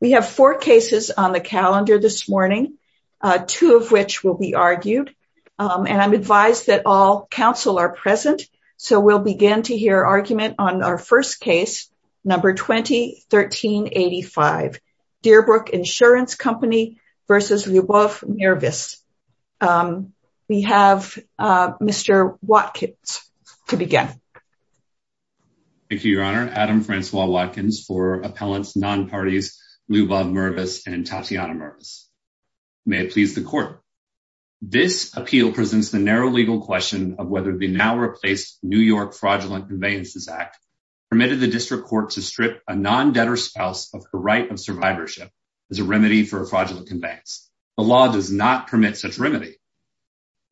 We have four cases on the calendar this morning, two of which will be argued, and I'm advised that all counsel are present. So we'll begin to hear argument on our first case, number 20-1385, Deerbrook Insurance Company v. Lyubov Mirvis. We have Mr. Watkins to begin. Thank you, Your Honor. Adam Francois Watkins for appellants non-parties Lyubov Mirvis and Tatiana Mirvis. May it please the court. This appeal presents the narrow legal question of whether the now-replaced New York Fraudulent Conveyances Act permitted the district court to strip a non-debtor spouse of her right of survivorship as a remedy for a fraudulent conveyance. The law does not permit such remedy.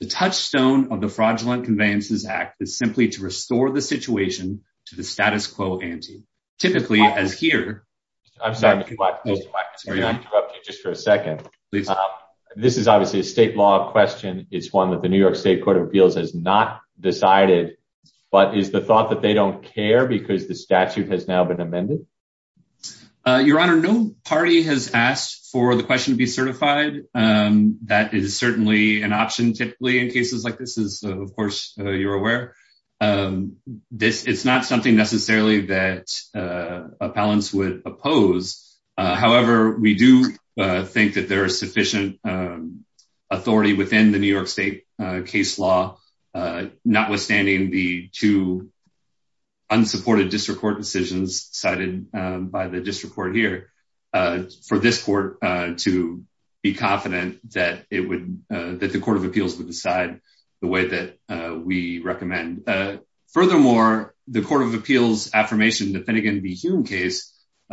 The touchstone of the Fraudulent Conveyances Act is simply to restore the situation to the status quo ante, typically as here. I'm sorry, Mr. Watkins. May I interrupt you just for a second? This is obviously a state law question. It's one that the New York State Court of Appeals has not decided. But is the thought that they don't care because the statute has now been amended? Your Honor, no party has asked for the question to be certified. That is certainly an option typically in cases like this, as of course you're aware. It's not something necessarily that appellants would oppose. However, we do think that there is sufficient authority within the New York State case law, notwithstanding the two unsupported district court decisions cited by the district court here, for this court to be confident that the Court of Appeals would decide the way that we recommend. Furthermore, the Court of Appeals' affirmation in the Finnegan v. Hume case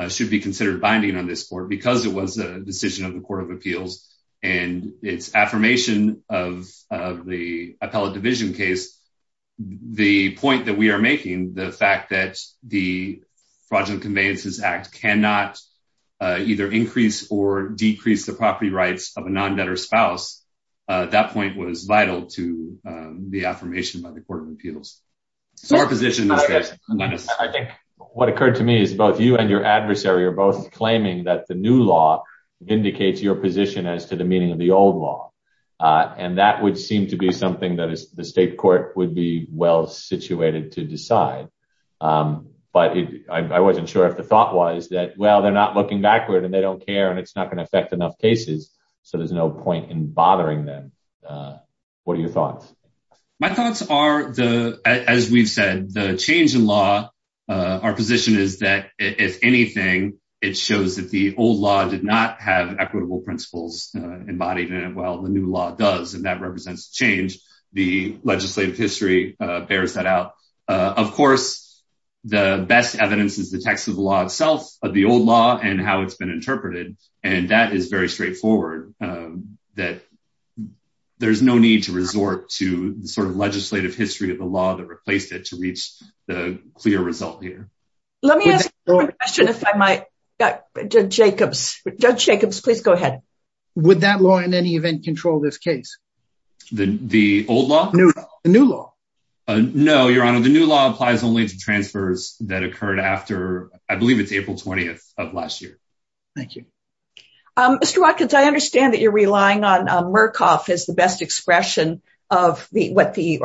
should be considered binding on this court, because it was a decision of the Court of Appeals and its affirmation of the appellate division case. The point that we are making, the fact that the Fraudulent Conveyances Act cannot either increase or decrease the property rights of a non-debtor spouse, that point was vital to the affirmation by the Court of Appeals. So our position is that- I think what occurred to me is both you and your adversary are both claiming that the new law indicates your position as to the meaning of the old law. And that would seem to be something that the state court would be well-situated to decide. But I wasn't sure if the thought was that, well, they're not looking backward and they don't care and it's not going to affect enough cases, so there's no point in bothering them. What are your thoughts? My thoughts are, as we've said, the change in law, our position is that, if anything, it shows that the old law did not have equitable principles embodied in it, while the new law does. And that represents change. The legislative history bears that out. Of course, the best evidence is the text of the law itself, of the old law and how it's been interpreted. And that is very straightforward, that there's no need to resort to the sort of legislative history of the law that replaced it to reach the clear result here. Let me ask one question if I might. Judge Jacobs, please go ahead. Would that law in any event control this case? The old law? The new law. No, Your Honor, the new law applies only to transfers that occurred after, I believe it's April 20th of last year. Thank you. Mr. Watkins, I understand that you're relying on Murkoff as the best expression of what the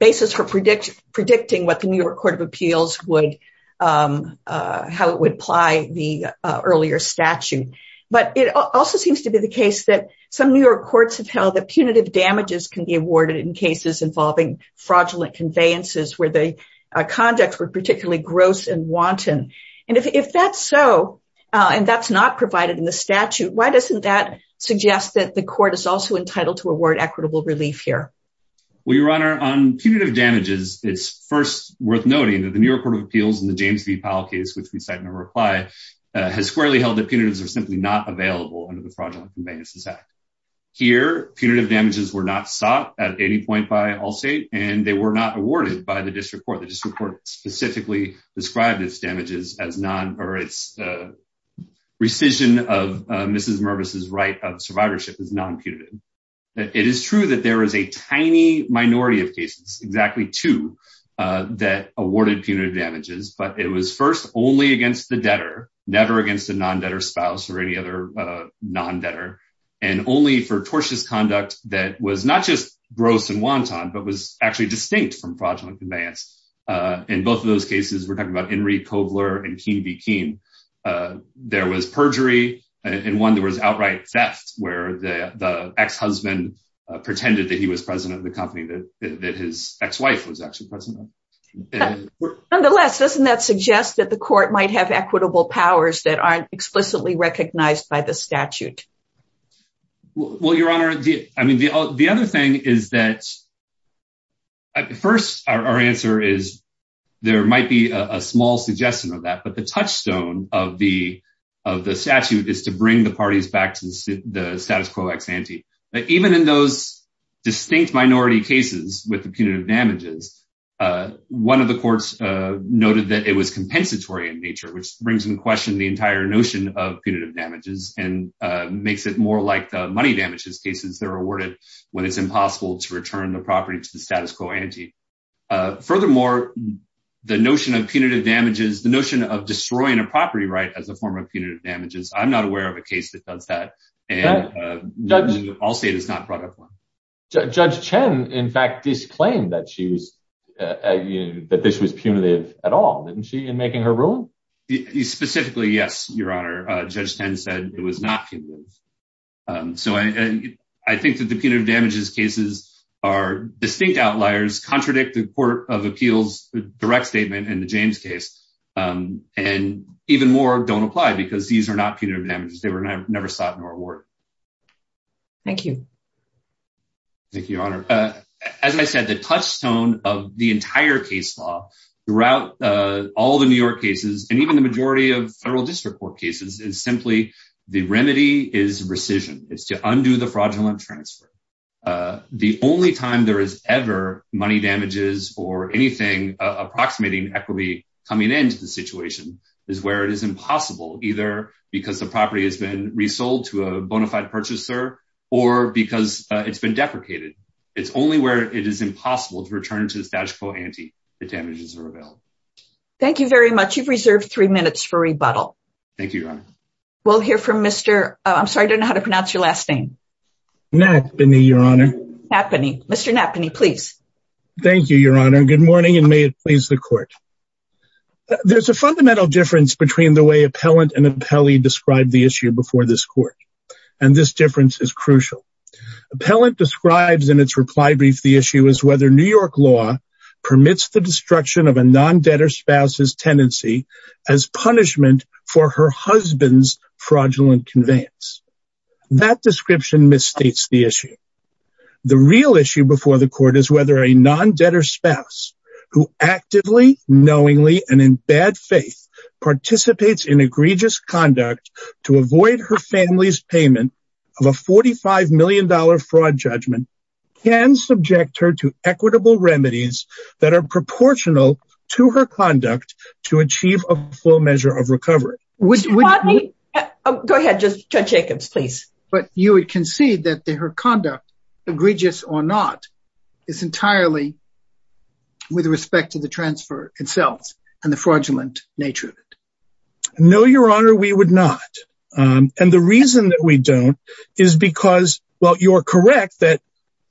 basis for predicting what the New York Court of Appeals would, how it would apply the earlier statute. But it also seems to be the case that some New York courts have held that punitive damages can be awarded in cases involving fraudulent conveyances where the conducts were particularly gross and wanton. And if that's so, and that's not provided in the statute, why doesn't that suggest that the court is also entitled to award equitable relief here? Well, Your Honor, on punitive damages, it's first worth noting that the New York Court of Appeals in the James v. Powell case, which we cite in our reply, has squarely held that punitives are simply not available under the Fraudulent Conveyances Act. Here, punitive damages were not sought at any point by Allstate, and they were not awarded by the district court. The district court specifically described its damages as non, or its rescission of Mrs. Mervis's right of survivorship as non-punitive. It is true that there is a tiny minority of cases, exactly two, that awarded punitive damages, but it was first only against the debtor, never against a non-debtor spouse or any other non-debtor, and only for tortious conduct that was not just gross and wanton, but was actually distinct from fraudulent conveyance. In both of those cases, we're talking about Enri Cobler and Keene v. Keene, there was perjury, and one that was outright theft, where the ex-husband pretended that he was president of the company that his ex-wife was actually president. Nonetheless, doesn't that suggest that the court might have equitable powers that aren't explicitly recognized by the statute? Well, Your Honor, I mean, the other thing is that, first, our answer is, there might be a small suggestion of that, but the touchstone of the statute is to bring the parties back to the status quo ex ante. Even in those distinct minority cases with the punitive damages, one of the courts noted that it was compensatory in nature, which brings in question the entire notion of punitive damages and makes it more like the money damages cases that are awarded when it's impossible to return the property to the status quo ante. Furthermore, the notion of punitive damages, the notion of destroying a property right as a form of punitive damages, I'm not aware of a case that does that, and all state has not brought up one. Judge Chen, in fact, disclaimed that this was punitive at all, didn't she, in making her ruling? Specifically, yes, Your Honor. Judge Chen said it was not punitive. So I think that the punitive damages cases are distinct outliers, contradict the Court of Appeals' direct statement in the James case, and even more don't apply because these are not punitive damages. They were never sought nor awarded. Thank you. Thank you, Your Honor. As I said, the touchstone of the entire case law throughout all the New York cases, and even the majority of federal district court cases, is simply the remedy is rescission. It's to undo the fraudulent transfer. The only time there is ever money damages or anything approximating equity coming into the situation is where it is impossible, either because the property has been resold to a bona fide purchaser or because it's been deprecated. It's only where it is impossible to return to the status quo ante that damages are available. Thank you very much. You've reserved three minutes for rebuttal. Thank you, Your Honor. We'll hear from Mr. I'm sorry, I don't know how to pronounce your last name. Nappany, Your Honor. Nappany. Mr. Nappany, please. Thank you, Your Honor. Good morning, and may it please the court. There's a fundamental difference between the way appellant and appellee described the issue before this court, and this difference is crucial. Appellant describes in its reply brief the issue as whether New York law permits the destruction of a non-debtor spouse's tenancy as punishment for her husband's fraudulent conveyance. That description misstates the issue. The real issue before the court is whether a non-debtor spouse who actively, knowingly, and in bad faith participates in egregious conduct to avoid her family's payment of a $45 million fraud judgment can subject her to equitable remedies that are proportional to her conduct to achieve a full measure of recovery. Go ahead, Judge Jacobs, please. But you would concede that her conduct, egregious or not, is entirely with respect to the transfer itself and the fraudulent nature of it. No, Your Honor, we would not, and the reason that we don't is because, well, you're correct that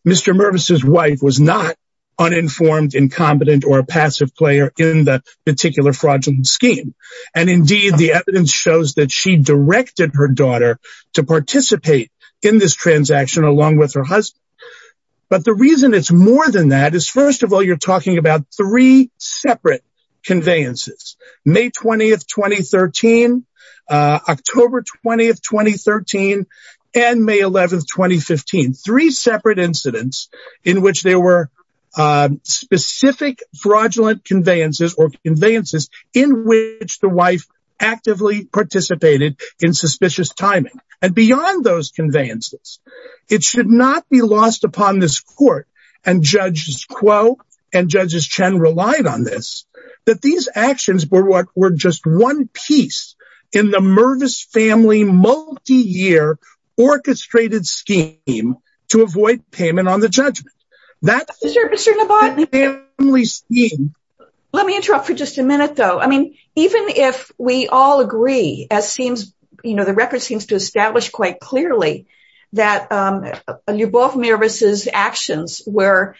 Mr. Mervis's wife was not uninformed, incompetent, or a passive player in the particular fraudulent scheme. And indeed, the evidence shows that she directed her daughter to participate in this transaction along with her husband. But the reason it's more than that is, first of all, you're talking about three separate conveyances. May 20, 2013, October 20, 2013, and May 11, 2015. Three separate incidents in which there were specific fraudulent conveyances or conveyances in which the wife actively participated in suspicious timing. And beyond those conveyances, it should not be lost upon this Court, and Judge Kuo and Judge Chen relied on this, that these actions were just one piece in the Mervis family multi-year orchestrated scheme to avoid payment on the judgment. Let me interrupt for just a minute, though. I mean, even if we all agree, as seems, you know, the record seems to establish quite clearly that Lyubov Mervis's actions were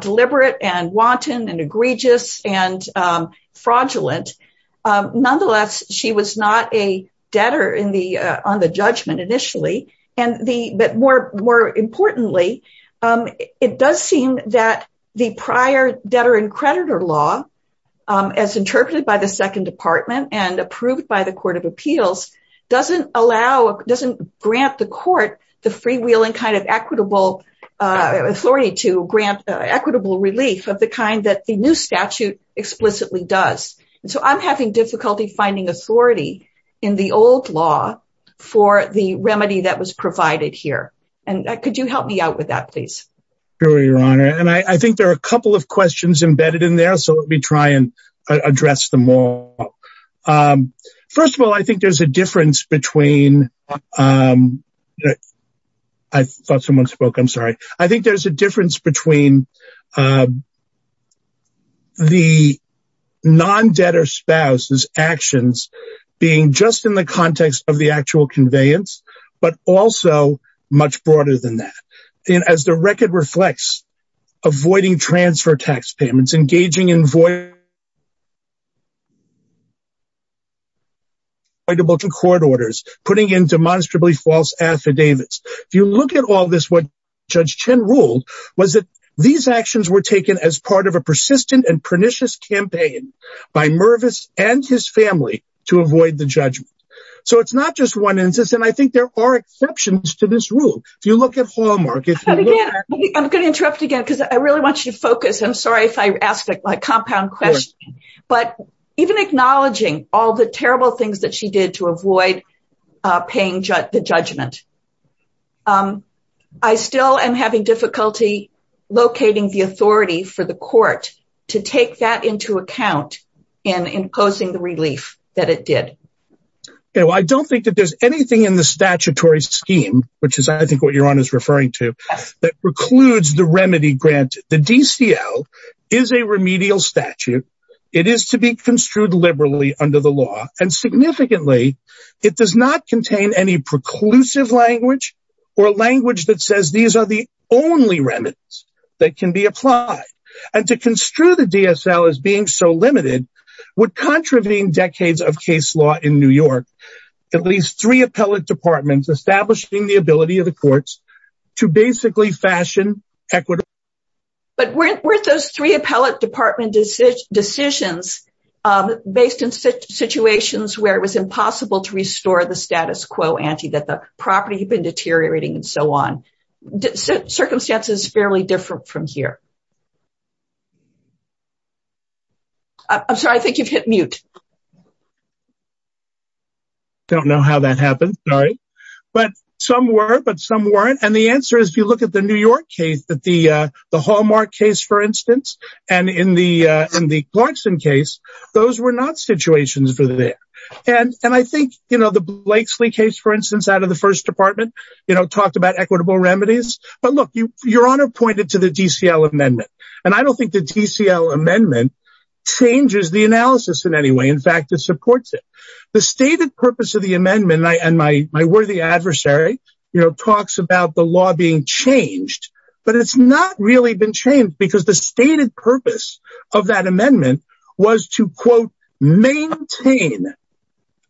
deliberate and wanton and egregious and fraudulent. Nonetheless, she was not a debtor on the judgment initially. But more importantly, it does seem that the prior debtor and creditor law, as interpreted by the Second Department and approved by the Court of Appeals, doesn't grant the court the freewheeling kind of equitable authority to grant equitable relief of the kind that the new statute explicitly does. And so I'm having difficulty finding authority in the old law for the remedy that was provided here. And could you help me out with that, please? Sure, Your Honor. And I think there are a couple of questions embedded in there, so let me try and address them all. First of all, I think there's a difference between the non-debtor spouse's actions being just in the context of the actual conveyance, but also much broader than that. As the record reflects, avoiding transfer tax payments, engaging in voidable court orders, putting in demonstrably false affidavits. If you look at all this, what Judge Chin ruled was that these actions were taken as part of a persistent and pernicious campaign by Mervis and his family to avoid the judgment. So it's not just one instance, and I think there are exceptions to this rule. If you look at Hallmark… I'm going to interrupt again because I really want you to focus. I'm sorry if I asked a compound question. But even acknowledging all the terrible things that she did to avoid paying the judgment, I still am having difficulty locating the authority for the court to take that into account in imposing the relief that it did. I don't think that there's anything in the statutory scheme, which is I think what Your Honor is referring to, that precludes the remedy granted. The DCL is a remedial statute. It is to be construed liberally under the law. And significantly, it does not contain any preclusive language or language that says these are the only remedies that can be applied. And to construe the DSL as being so limited would contravene decades of case law in New York, at least three appellate departments establishing the ability of the courts to basically fashion equitable… But weren't those three appellate department decisions based in situations where it was impossible to restore the status quo ante, that the property had been deteriorating and so on? Circumstances are fairly different from here. I'm sorry, I think you've hit mute. I don't know how that happened. But some were, but some weren't. And the answer is if you look at the New York case, the Hallmark case, for instance, and in the Clarkson case, those were not situations for that. And I think, you know, the Blakesley case, for instance, out of the first department, you know, talked about equitable remedies. But look, Your Honor pointed to the DCL amendment. And I don't think the DCL amendment changes the analysis in any way. In fact, it supports it. The stated purpose of the amendment, and my worthy adversary, you know, talks about the law being changed. But it's not really been changed because the stated purpose of that amendment was to, quote, maintain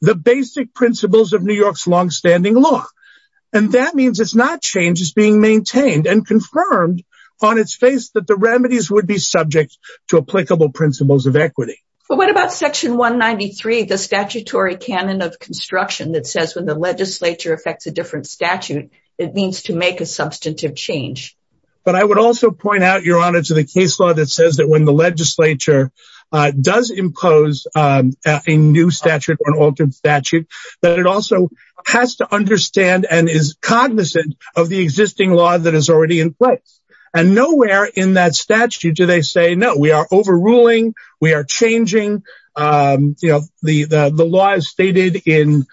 the basic principles of New York's longstanding law. And that means it's not changed. It's being maintained and confirmed on its face that the remedies would be subject to applicable principles of equity. But what about Section 193, the statutory canon of construction that says when the legislature affects a different statute, it means to make a substantive change? But I would also point out, Your Honor, to the case law that says that when the legislature does impose a new statute or an altered statute, that it also has to understand and is cognizant of the existing law that is already in place. And nowhere in that statute do they say, no, we are overruling. We are changing. You know, the law is stated in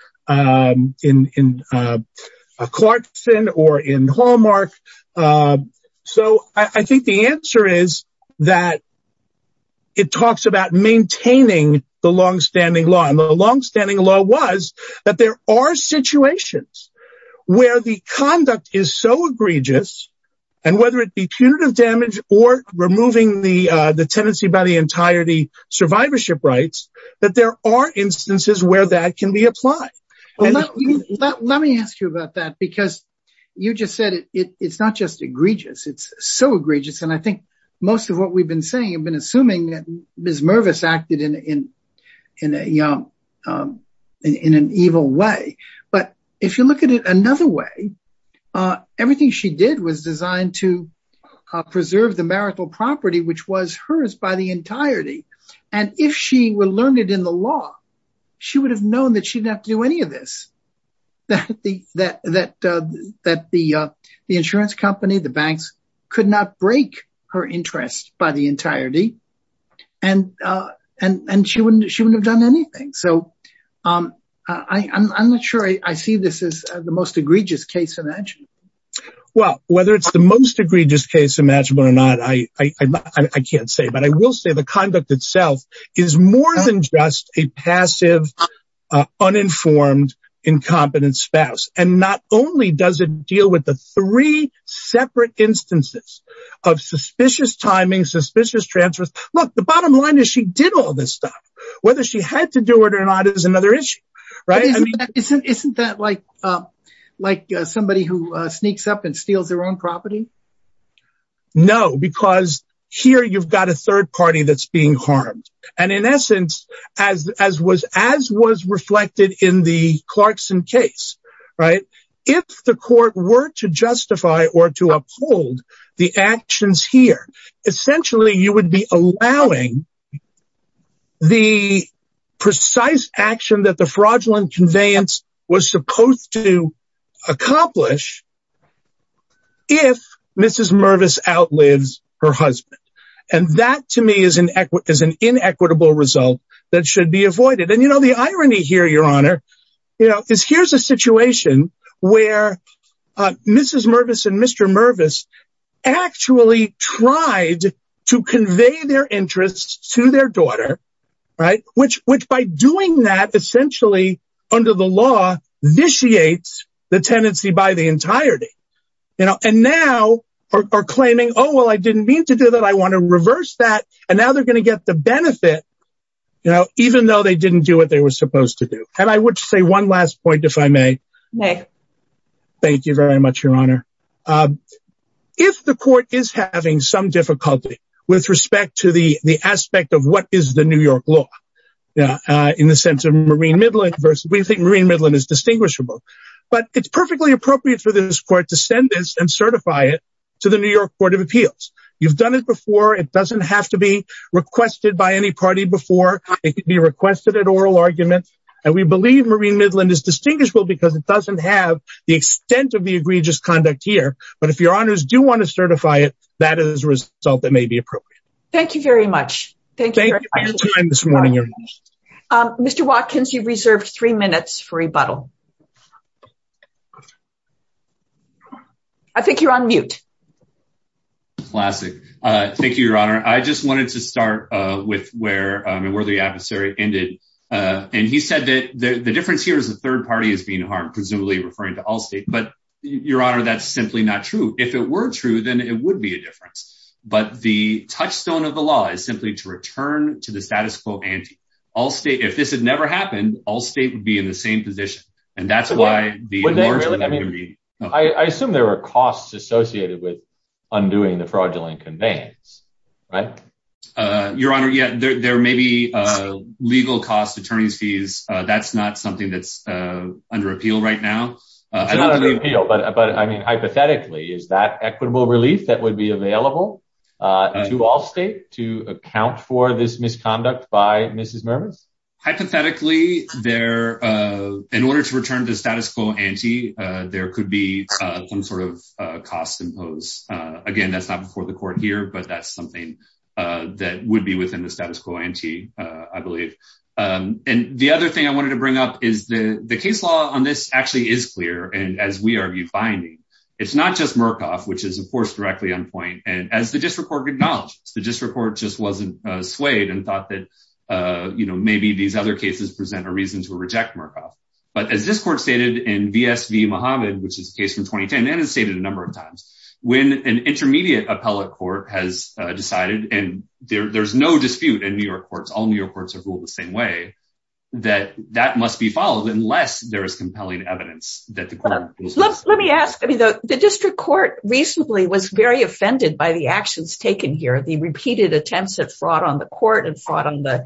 Clarkson or in Hallmark. So I think the answer is that it talks about maintaining the longstanding law. And the longstanding law was that there are situations where the conduct is so egregious and whether it be punitive damage or removing the tenancy by the entirety survivorship rights, that there are instances where that can be applied. Let me ask you about that, because you just said it's not just egregious, it's so egregious. And I think most of what we've been saying, I've been assuming that Ms. Mervis acted in an evil way. But if you look at it another way, everything she did was designed to preserve the marital property, which was hers by the entirety. And if she learned it in the law, she would have known that she didn't have to do any of this, that the insurance company, the banks, could not break her interest by the entirety. And she wouldn't have done anything. So I'm not sure I see this as the most egregious case imaginable. Well, whether it's the most egregious case imaginable or not, I can't say. But I will say the conduct itself is more than just a passive, uninformed, incompetent spouse. And not only does it deal with the three separate instances of suspicious timing, suspicious transfers. Look, the bottom line is she did all this stuff. Whether she had to do it or not is another issue. Isn't that like somebody who sneaks up and steals their own property? No, because here you've got a third party that's being harmed. And in essence, as was reflected in the Clarkson case, if the court were to justify or to uphold the actions here, essentially you would be allowing the precise action that the fraudulent conveyance was supposed to accomplish if Mrs. Mervis outlives her husband. And that, to me, is an inequitable result that should be avoided. And the irony here, Your Honor, is here's a situation where Mrs. Mervis and Mr. Mervis actually tried to convey their interests to their daughter. Which by doing that, essentially under the law, vitiates the tenancy by the entirety. And now are claiming, oh, well, I didn't mean to do that. I want to reverse that. And now they're going to get the benefit, even though they didn't do what they were supposed to do. And I would say one last point, if I may. Thank you very much, Your Honor. If the court is having some difficulty with respect to the aspect of what is the New York law in the sense of Marine Midland versus we think Marine Midland is distinguishable. But it's perfectly appropriate for this court to send this and certify it to the New York Court of Appeals. You've done it before. It doesn't have to be requested by any party before. It could be requested at oral argument. And we believe Marine Midland is distinguishable because it doesn't have the extent of the egregious conduct here. But if your honors do want to certify it, that is a result that may be appropriate. Thank you very much. Thank you for your time this morning, Your Honor. Mr. Watkins, you've reserved three minutes for rebuttal. I think you're on mute. Classic. Thank you, Your Honor. I just wanted to start with where the adversary ended. And he said that the difference here is the third party is being harmed, presumably referring to all state. But, Your Honor, that's simply not true. If it were true, then it would be a difference. But the touchstone of the law is simply to return to the status quo. And all state, if this had never happened, all state would be in the same position. And that's why. I mean, I assume there are costs associated with undoing the fraudulent conveyance. Right, Your Honor. Yet there may be legal costs, attorney's fees. That's not something that's under appeal right now. But I mean, hypothetically, is that equitable relief that would be available to all state to account for this misconduct by Mrs. Hypothetically, there in order to return the status quo ante, there could be some sort of cost imposed. Again, that's not before the court here, but that's something that would be within the status quo ante, I believe. And the other thing I wanted to bring up is the case law on this actually is clear. And as we are finding, it's not just Murkoff, which is, of course, directly on point. And as the district court acknowledges, the district court just wasn't swayed and thought that, you know, maybe these other cases present a reason to reject Murkoff. But as this court stated in VSV Muhammad, which is a case from 2010 and has stated a number of times when an intermediate appellate court has decided and there's no dispute in New York courts, all New York courts are ruled the same way that that must be followed unless there is compelling evidence that the court. Let me ask. I mean, the district court recently was very offended by the actions taken here. The repeated attempts at fraud on the court and fraud on the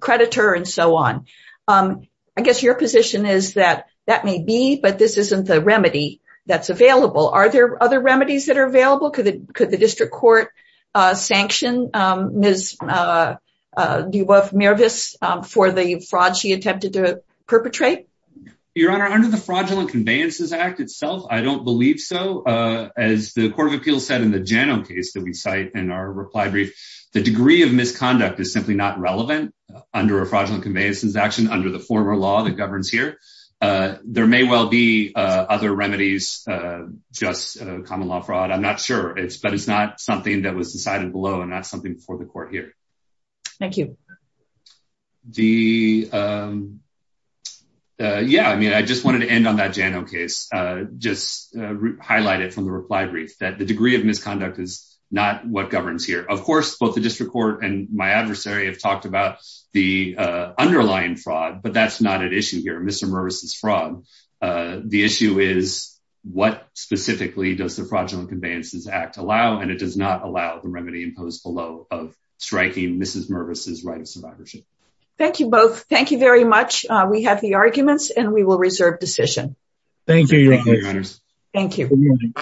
creditor and so on. I guess your position is that that may be, but this isn't the remedy that's available. Are there other remedies that are available? Could the district court sanction Ms. Dubois-Mirvis for the fraud she attempted to perpetrate? Your Honor, under the Fraudulent Conveyances Act itself, I don't believe so. As the Court of Appeals said in the Janow case that we cite in our reply brief, the degree of misconduct is simply not relevant under a Fraudulent Conveyances Act, under the former law that governs here. There may well be other remedies, just common law fraud. I'm not sure, but it's not something that was decided below and not something before the court here. Thank you. Yeah, I mean, I just wanted to end on that Janow case, just highlight it from the reply brief, that the degree of misconduct is not what governs here. Of course, both the district court and my adversary have talked about the underlying fraud, but that's not at issue here. The issue is what specifically does the Fraudulent Conveyances Act allow, and it does not allow the remedy imposed below of striking Ms. Mirvis' right of survivorship. Thank you both. Thank you very much. We have the arguments, and we will reserve decision. Thank you, Your Honor. Thank you.